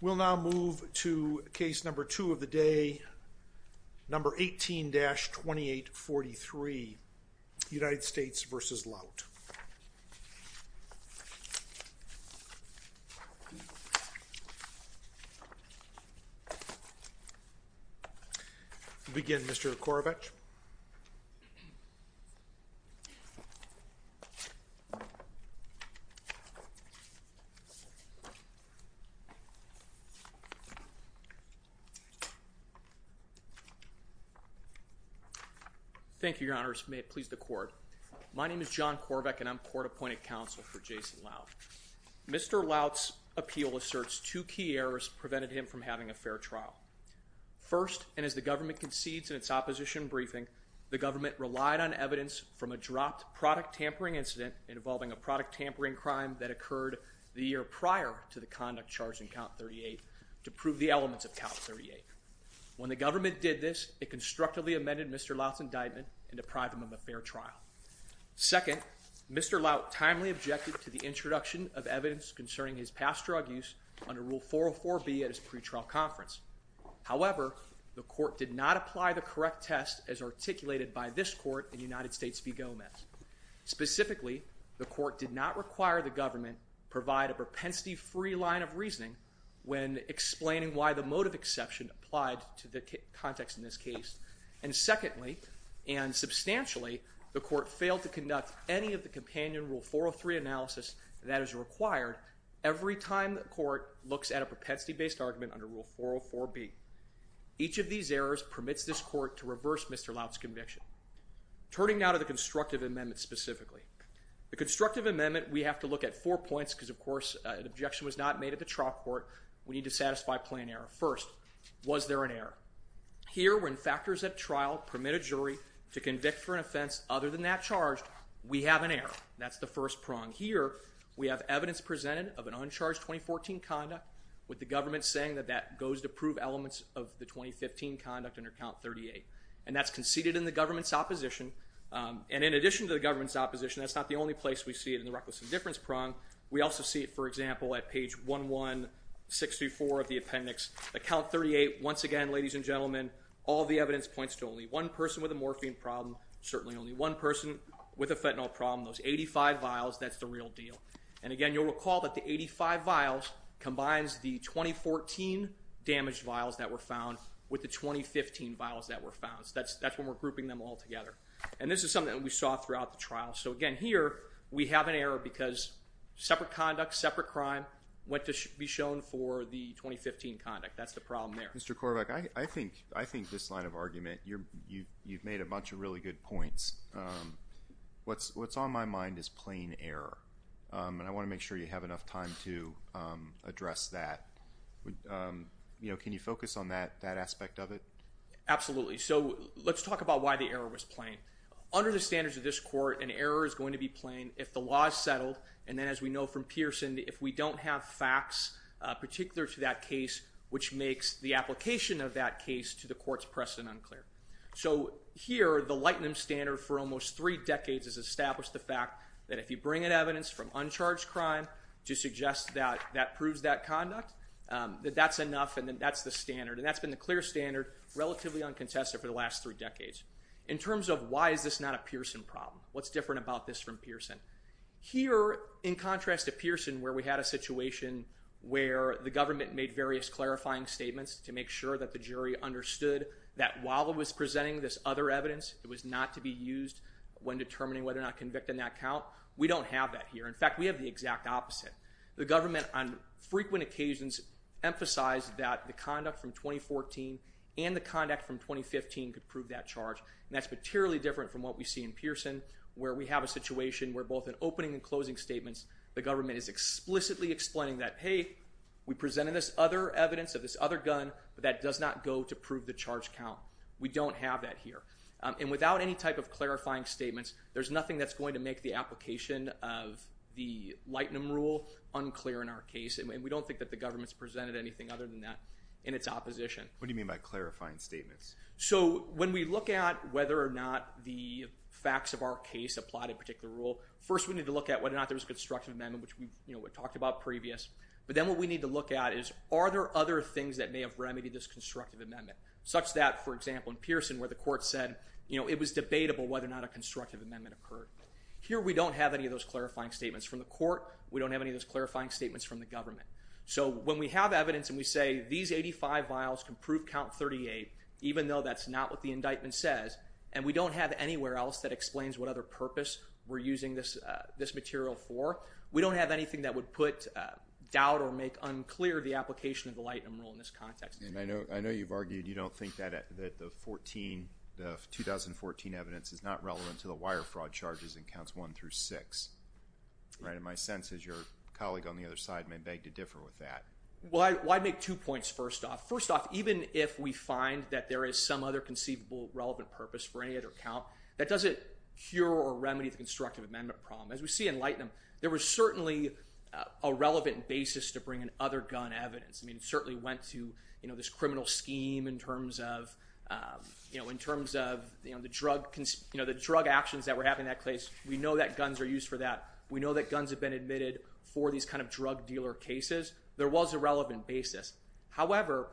We'll now move to Case No. 2 of the day, No. 18-2843, United States v. Laut. We'll begin with Mr. Korovich. Mr. Korovich. Thank you, Your Honors. May it please the Court. My name is John Korovich, and I'm court-appointed counsel for Jason Laut. Mr. Laut's appeal asserts two key errors prevented him from having a fair trial. First, and as the government concedes in its opposition briefing, the government relied on evidence from a dropped product tampering incident involving a product tampering crime that occurred the year prior to the conduct charged in Count 38 to prove the elements of Count 38. When the government did this, it constructively amended Mr. Laut's indictment and deprived him of a fair trial. Second, Mr. Laut timely objected to the introduction of evidence concerning his past drug use under Rule 404B at his pretrial conference. However, the court did not apply the correct test as articulated by this court in United States v. Gomez. Specifically, the court did not require the government to provide a propensity-free line of reasoning when explaining why the motive exception applied to the context in this case. And secondly, and substantially, the court failed to conduct any of the companion Rule 403 analysis that is required every time the court looks at a propensity-based argument under Rule 404B. Each of these errors permits this court to reverse Mr. Laut's conviction. Turning now to the constructive amendment specifically. The constructive amendment, we have to look at four points because, of course, an objection was not made at the trial court. We need to satisfy plan error. First, was there an error? Here, when factors at trial permit a jury to convict for an offense other than that charged, we have an error. That's the first prong. Here, we have evidence presented of an uncharged 2014 conduct with the government saying that that goes to prove elements of the 2015 conduct under Count 38. And that's conceded in the government's opposition. And in addition to the government's opposition, that's not the only place we see it in the reckless indifference prong. We also see it, for example, at page 11624 of the appendix. Account 38, once again, ladies and gentlemen, all the evidence points to only one person with a morphine problem, certainly only one person with a fentanyl problem. Those 85 vials, that's the real deal. And, again, you'll recall that the 85 vials combines the 2014 damaged vials that were found with the 2015 vials that were found. So that's when we're grouping them all together. And this is something that we saw throughout the trial. So, again, here we have an error because separate conduct, separate crime, went to be shown for the 2015 conduct. That's the problem there. Mr. Korvec, I think this line of argument, you've made a bunch of really good points. What's on my mind is plain error, and I want to make sure you have enough time to address that. Can you focus on that aspect of it? Absolutely. So let's talk about why the error was plain. Under the standards of this court, an error is going to be plain if the law is settled, and then, as we know from Pearson, if we don't have facts particular to that case, which makes the application of that case to the court's precedent unclear. So here, the Lightening Standard for almost three decades has established the fact that if you bring in evidence from uncharged crime to suggest that that proves that conduct, that that's enough and that that's the standard. And that's been the clear standard relatively uncontested for the last three decades. In terms of why is this not a Pearson problem, what's different about this from Pearson? Here, in contrast to Pearson where we had a situation where the government made various clarifying statements to make sure that the jury understood that while it was presenting this other evidence, it was not to be used when determining whether or not convicted in that count, we don't have that here. In fact, we have the exact opposite. The government on frequent occasions emphasized that the conduct from 2014 and the conduct from 2015 could prove that charge, and that's materially different from what we see in Pearson where we have a situation where both in opening and closing statements the government is explicitly explaining that, hey, we presented this other evidence of this other gun, but that does not go to prove the charge count. We don't have that here. And without any type of clarifying statements, there's nothing that's going to make the application of the Lightening Rule unclear in our case, and we don't think that the government's presented anything other than that in its opposition. What do you mean by clarifying statements? So when we look at whether or not the facts of our case apply to a particular rule, first we need to look at whether or not there's a construction amendment, which we talked about previous, but then what we need to look at is are there other things that may have remedied this constructive amendment, such that, for example, in Pearson where the court said it was debatable whether or not a constructive amendment occurred. Here we don't have any of those clarifying statements from the court. We don't have any of those clarifying statements from the government. So when we have evidence and we say these 85 vials can prove Count 38, even though that's not what the indictment says, and we don't have anywhere else that explains what other purpose we're using this material for, we don't have anything that would put doubt or make unclear the application of the Lightening Rule in this context. I know you've argued you don't think that the 2014 evidence is not relevant to the wire fraud charges in Counts 1 through 6. In my sense, as your colleague on the other side may beg to differ with that. Well, I'd make two points, first off. First off, even if we find that there is some other conceivable relevant purpose for any other count, that doesn't cure or remedy the constructive amendment problem. As we see in Lightening, there was certainly a relevant basis to bring in other gun evidence. I mean, it certainly went to this criminal scheme in terms of the drug actions that were happening in that case. We know that guns are used for that. We know that guns have been admitted for these kind of drug dealer cases. There was a relevant basis. However,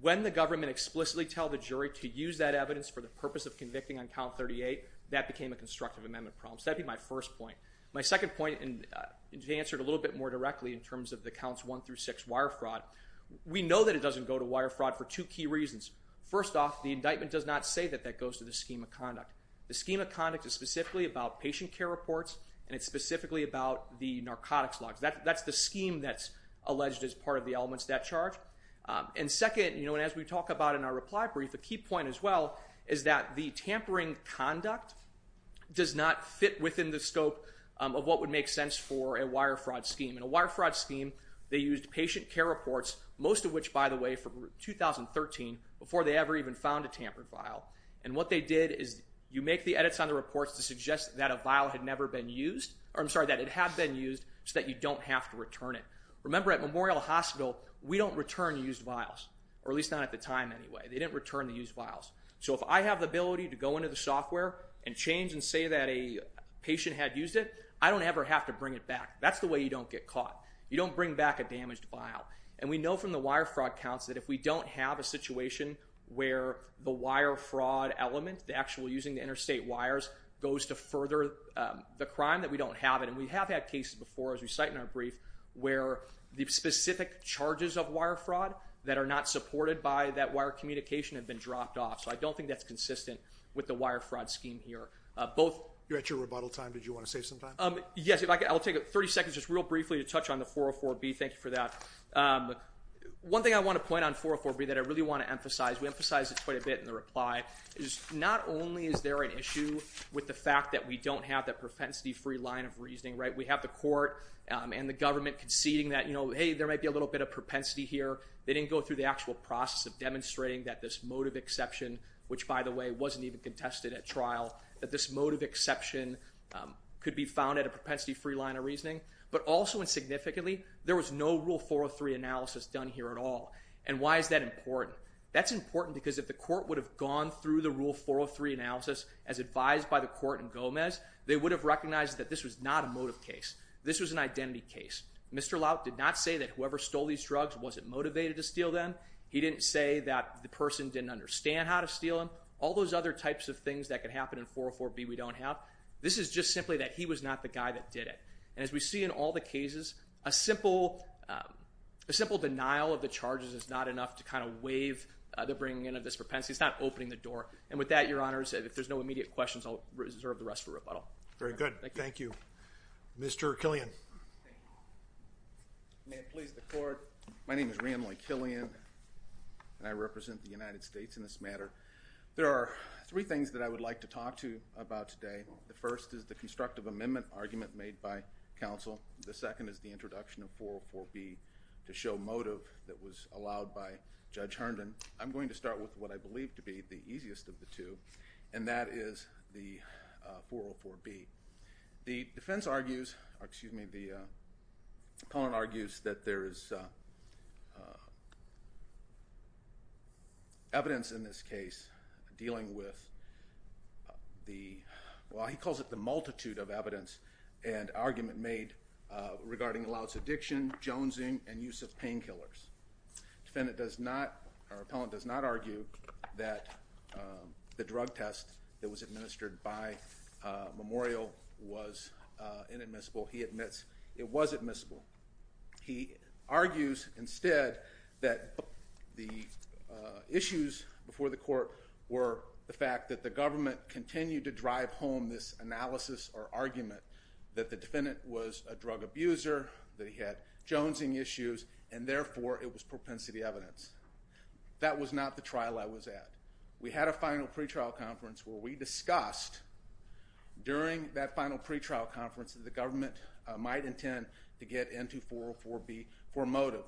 when the government explicitly told the jury to use that evidence for the purpose of convicting on Count 38, that became a constructive amendment problem. So that would be my first point. My second point, and to answer it a little bit more directly in terms of the Counts 1 through 6 wire fraud, we know that it doesn't go to wire fraud for two key reasons. First off, the indictment does not say that that goes to the scheme of conduct. The scheme of conduct is specifically about patient care reports, and it's specifically about the narcotics logs. That's the scheme that's alleged as part of the elements that charge. And second, as we talk about in our reply brief, a key point as well is that the tampering conduct does not fit within the scope of what would make sense for a wire fraud scheme. In a wire fraud scheme, they used patient care reports, most of which, by the way, from 2013, before they ever even found a tampered vial. And what they did is you make the edits on the reports to suggest that a vial had never been used so that you don't have to return it. Remember, at Memorial Hospital, we don't return used vials, or at least not at the time anyway. They didn't return the used vials. So if I have the ability to go into the software and change and say that a patient had used it, I don't ever have to bring it back. That's the way you don't get caught. You don't bring back a damaged vial. And we know from the wire fraud counts that if we don't have a situation where the wire fraud element, the actual using the interstate wires, goes to further the crime, that we don't have it. And we have had cases before, as we cite in our brief, where the specific charges of wire fraud that are not supported by that wire communication have been dropped off. So I don't think that's consistent with the wire fraud scheme here. You're at your rebuttal time. Did you want to save some time? Yes. I'll take 30 seconds just real briefly to touch on the 404B. Thank you for that. One thing I want to point on 404B that I really want to emphasize, we emphasized it quite a bit in the reply, is not only is there an issue with the fact that we don't have that propensity-free line of reasoning. We have the court and the government conceding that, hey, there might be a little bit of propensity here. They didn't go through the actual process of demonstrating that this mode of exception, which, by the way, wasn't even contested at trial, that this mode of exception could be found at a propensity-free line of reasoning. But also and significantly, there was no Rule 403 analysis done here at all. And why is that important? That's important because if the court would have gone through the Rule 403 analysis as advised by the court in Gomez, they would have recognized that this was not a motive case. This was an identity case. Mr. Laut did not say that whoever stole these drugs wasn't motivated to steal them. He didn't say that the person didn't understand how to steal them. All those other types of things that could happen in 404B we don't have. This is just simply that he was not the guy that did it. And as we see in all the cases, a simple denial of the charges is not enough to kind of waive the bringing in of this propensity. It's not opening the door. And with that, Your Honors, if there's no immediate questions, I'll reserve the rest for rebuttal. Very good. Thank you. Mr. Killian. May it please the Court. My name is Randall Killian, and I represent the United States in this matter. There are three things that I would like to talk to you about today. The first is the constructive amendment argument made by counsel. The second is the introduction of 404B to show motive that was allowed by Judge Herndon. I'm going to start with what I believe to be the easiest of the two, and that is the 404B. The defense argues, or excuse me, the appellant argues that there is evidence in this case dealing with the, well, he calls it the multitude of evidence and argument made regarding allowed sediction, jonesing, and use of painkillers. Defendant does not, or appellant does not argue that the drug test that was administered by Memorial was inadmissible. He admits it was admissible. He argues instead that the issues before the court were the fact that the government continued to drive home this analysis or argument that the defendant was a drug abuser, that he had jonesing issues, and therefore it was propensity evidence. That was not the trial I was at. We had a final pretrial conference where we discussed during that final pretrial conference that the government might intend to get into 404B for motive.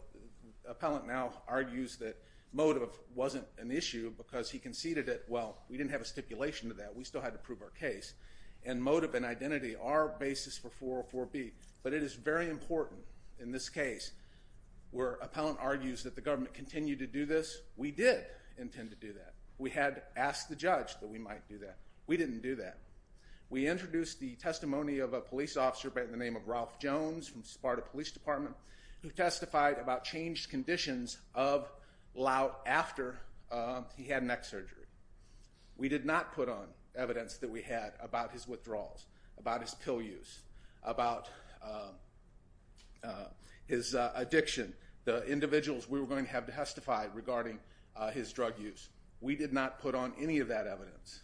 Appellant now argues that motive wasn't an issue because he conceded it. Well, we didn't have a stipulation to that. We still had to prove our case. And motive and identity are basis for 404B. But it is very important in this case where appellant argues that the government continued to do this. We did intend to do that. We had asked the judge that we might do that. We didn't do that. We introduced the testimony of a police officer by the name of Ralph Jones from Sparta Police Department who testified about changed conditions of Lout after he had neck surgery. We did not put on evidence that we had about his withdrawals, about his pill use, about his addiction, the individuals we were going to have to testify regarding his drug use. We did not put on any of that evidence.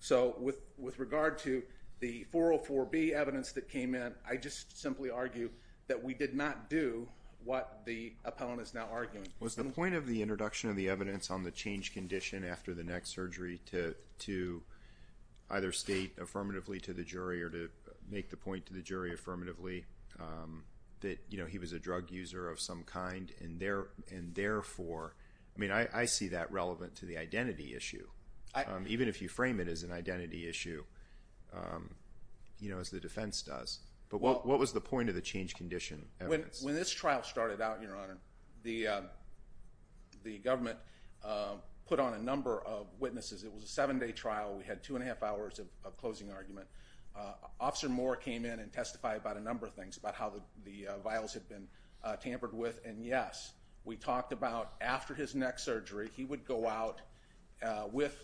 So with regard to the 404B evidence that came in, I just simply argue that we did not do what the appellant is now arguing. Was the point of the introduction of the evidence on the changed condition after the neck surgery to either state affirmatively to the jury or to make the point to the jury affirmatively that he was a drug user of some kind? And therefore, I mean I see that relevant to the identity issue. Even if you frame it as an identity issue as the defense does. But what was the point of the changed condition evidence? When this trial started out, Your Honor, the government put on a number of witnesses. It was a seven-day trial. We had two and a half hours of closing argument. Officer Moore came in and testified about a number of things, about how the vials had been tampered with. And yes, we talked about after his neck surgery, he would go out with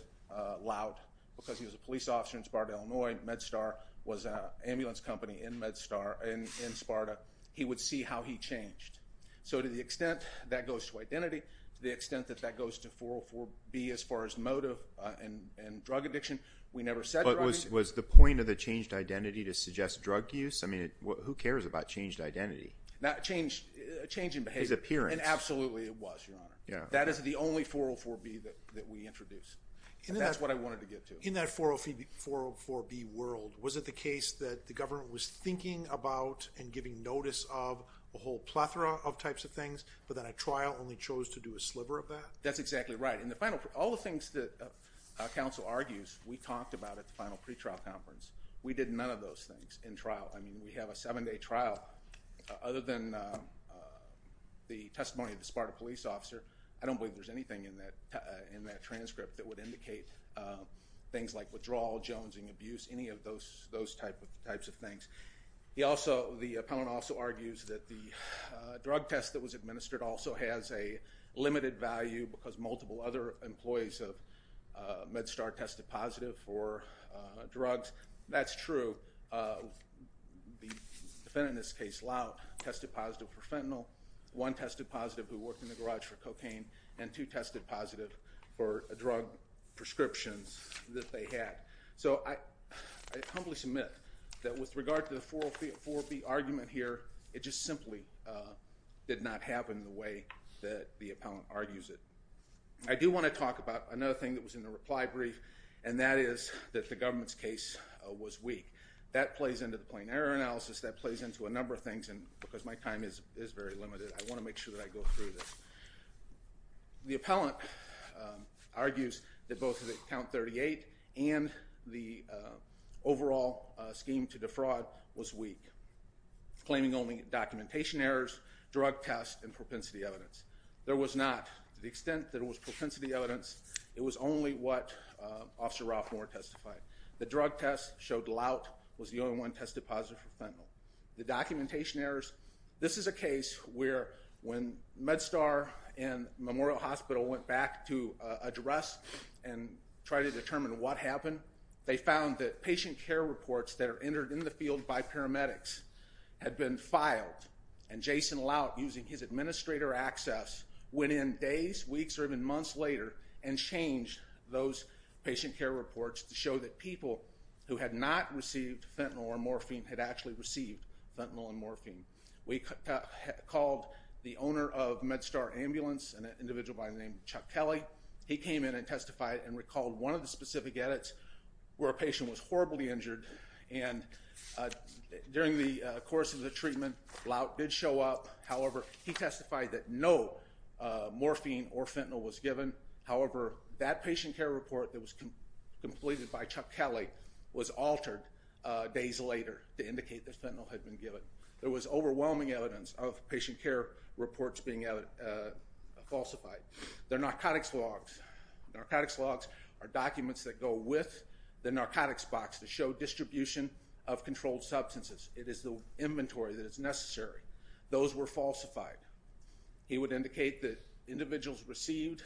Lout because he was a police officer in Sparta, Illinois. MedStar was an ambulance company in MedStar, in Sparta. He would see how he changed. So to the extent that goes to identity, to the extent that that goes to 404B as far as motive and drug addiction, we never said drugs. But was the point of the changed identity to suggest drug use? I mean, who cares about changed identity? Not change, change in behavior. His appearance. And absolutely it was, Your Honor. Yeah. That is the only 404B that we introduced. And that's what I wanted to get to. In that 404B world, was it the case that the government was thinking about and giving notice of a whole plethora of types of things, but that a trial only chose to do a sliver of that? That's exactly right. All the things that counsel argues, we talked about at the final pretrial conference. We did none of those things in trial. I mean, we have a seven-day trial. Other than the testimony of the Sparta police officer, I don't believe there's anything in that transcript that would indicate things like withdrawal, jonesing, abuse, any of those types of things. The appellant also argues that the drug test that was administered also has a limited value because multiple other employees of MedStar tested positive for drugs. That's true. The defendant in this case, Lau, tested positive for fentanyl. One tested positive who worked in the garage for cocaine, and two tested positive for drug prescriptions that they had. So I humbly submit that with regard to the 404B argument here, it just simply did not happen the way that the appellant argues it. I do want to talk about another thing that was in the reply brief, and that is that the government's case was weak. That plays into the point error analysis. That plays into a number of things, and because my time is very limited, I want to make sure that I go through this. The appellant argues that both the count 38 and the overall scheme to defraud was weak, claiming only documentation errors, drug tests, and propensity evidence. There was not. To the extent that it was propensity evidence, it was only what Officer Rothmore testified. The drug test showed Laut was the only one tested positive for fentanyl. The documentation errors, this is a case where when MedStar and Memorial Hospital went back to address and try to determine what happened, they found that patient care reports that are entered in the field by paramedics had been filed, and Jason Laut, using his administrator access, went in days, weeks, or even months later and changed those patient care reports to show that people who had not received fentanyl or morphine had actually received fentanyl and morphine. We called the owner of MedStar Ambulance, an individual by the name of Chuck Kelly. He came in and testified and recalled one of the specific edits where a patient was horribly injured, and during the course of the treatment, Laut did show up. However, he testified that no morphine or fentanyl was given. However, that patient care report that was completed by Chuck Kelly was altered days later to indicate that fentanyl had been given. There was overwhelming evidence of patient care reports being falsified. The narcotics logs are documents that go with the narcotics box to show distribution of controlled substances. It is the inventory that is necessary. Those were falsified. He would indicate that individuals received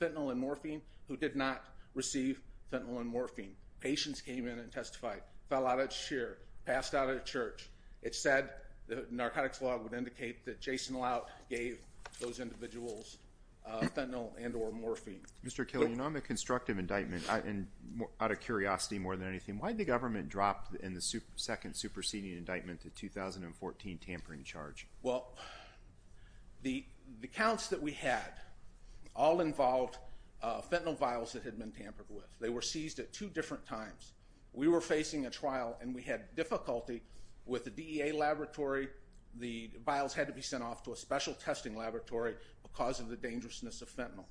fentanyl and morphine who did not receive fentanyl and morphine. Patients came in and testified, fell out of chair, passed out of church. It said the narcotics log would indicate that Jason Laut gave those individuals fentanyl and or morphine. Mr. Kelly, on the constructive indictment, out of curiosity more than anything, why did the government drop in the second superseding indictment the 2014 tampering charge? Well, the accounts that we had all involved fentanyl vials that had been tampered with. They were seized at two different times. We were facing a trial, and we had difficulty with the DEA laboratory. The vials had to be sent off to a special testing laboratory because of the dangerousness of fentanyl.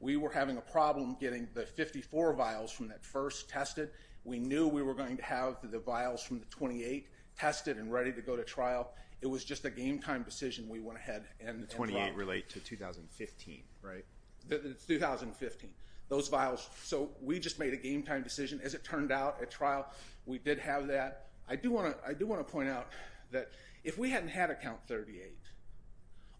We were having a problem getting the 54 vials from that first tested. We knew we were going to have the vials from the 28 tested and ready to go to trial. It was just a game-time decision we went ahead and dropped. The 28 relate to 2015, right? The 2015. Those vials. So we just made a game-time decision. As it turned out at trial, we did have that. I do want to point out that if we hadn't had account 38,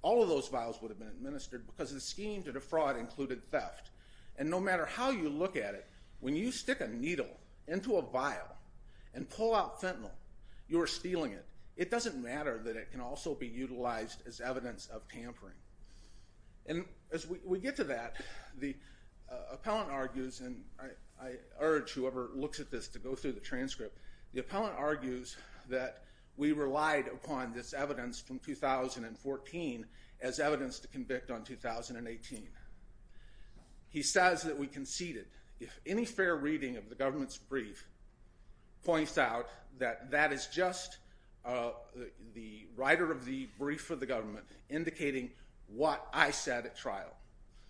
all of those vials would have been administered because the scheme to defraud included theft. And no matter how you look at it, when you stick a needle into a vial and pull out fentanyl, you're stealing it. It doesn't matter that it can also be utilized as evidence of tampering. And as we get to that, the appellant argues, and I urge whoever looks at this to go through the transcript, the appellant argues that we relied upon this evidence from 2014 as evidence to convict on 2018. He says that we conceded. If any fair reading of the government's brief points out that that is just the writer of the brief for the government indicating what I said at trial,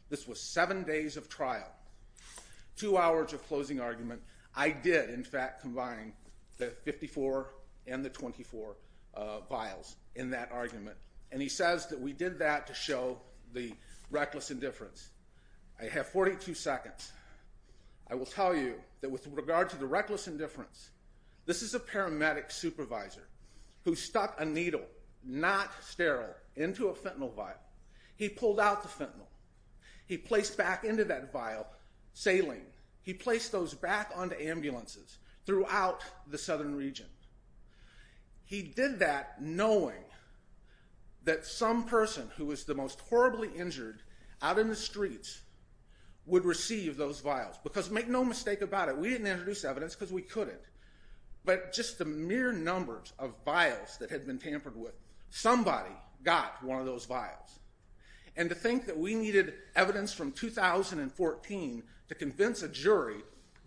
this was seven days of trial, two hours of closing argument. I did, in fact, combine the 54 and the 24 vials in that argument. And he says that we did that to show the reckless indifference. I have 42 seconds. I will tell you that with regard to the reckless indifference, this is a paramedic supervisor who stuck a needle, not sterile, into a fentanyl vial. He pulled out the fentanyl. He placed back into that vial saline. He placed those back onto ambulances throughout the southern region. He did that knowing that some person who was the most horribly injured out in the streets would receive those vials. Because make no mistake about it, we didn't introduce evidence because we couldn't. But just the mere numbers of vials that had been tampered with, somebody got one of those vials. And to think that we needed evidence from 2014 to convince a jury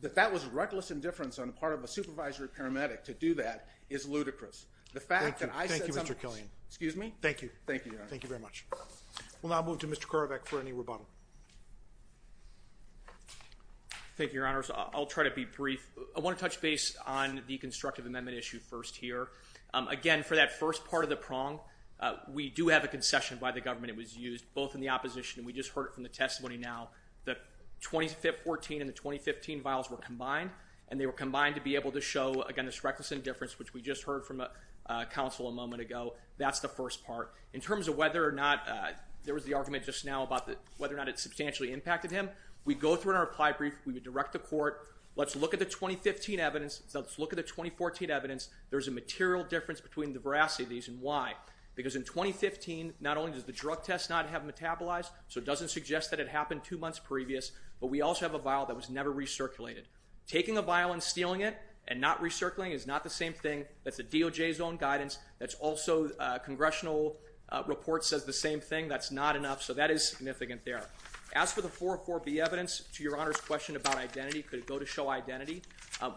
that that was reckless indifference on the part of a supervisory paramedic to do that is ludicrous. Thank you, Mr. Killian. Excuse me? Thank you. Thank you very much. We'll now move to Mr. Korovec for any rebuttal. Thank you, Your Honors. I'll try to be brief. I want to touch base on the constructive amendment issue first here. Again, for that first part of the prong, we do have a concession by the government. It was used both in the opposition, and we just heard it from the testimony now, that 2014 and the 2015 vials were combined, and they were combined to be able to show, again, this reckless indifference, which we just heard from counsel a moment ago. That's the first part. In terms of whether or not there was the argument just now about whether or not it substantially impacted him, we go through our reply brief, we direct the court, let's look at the 2015 evidence, let's look at the 2014 evidence, there's a material difference between the veracity of these and why. Because in 2015, not only does the drug test not have metabolized, so it doesn't suggest that it happened two months previous, but we also have a vial that was never recirculated. Taking a vial and stealing it and not recircling is not the same thing. That's the DOJ's own guidance. That's also congressional report says the same thing. That's not enough, so that is significant there. As for the 404B evidence, to Your Honor's question about identity, could it go to show identity,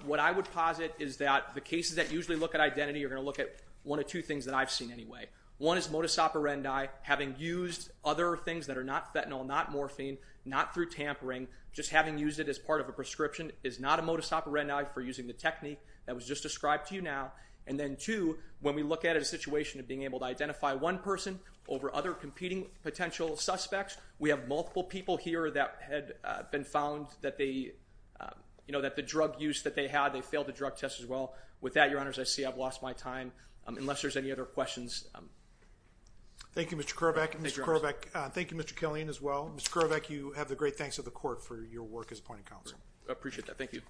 what I would posit is that the cases that usually look at identity are going to look at one of two things that I've seen anyway. One is modus operandi, having used other things that are not fentanyl, not morphine, not through tampering, just having used it as part of a prescription is not a modus operandi for using the technique that was just described to you now. And then two, when we look at a situation of being able to identify one person over other competing potential suspects, we have multiple people here that had been found that the drug use that they had, they failed the drug test as well. With that, Your Honors, I see I've lost my time, unless there's any other questions. Thank you, Mr. Korobek. Thank you, Mr. Killian, as well. Mr. Korobek, you have the great thanks of the court for your work as appointing counsel. I appreciate that. Thank you.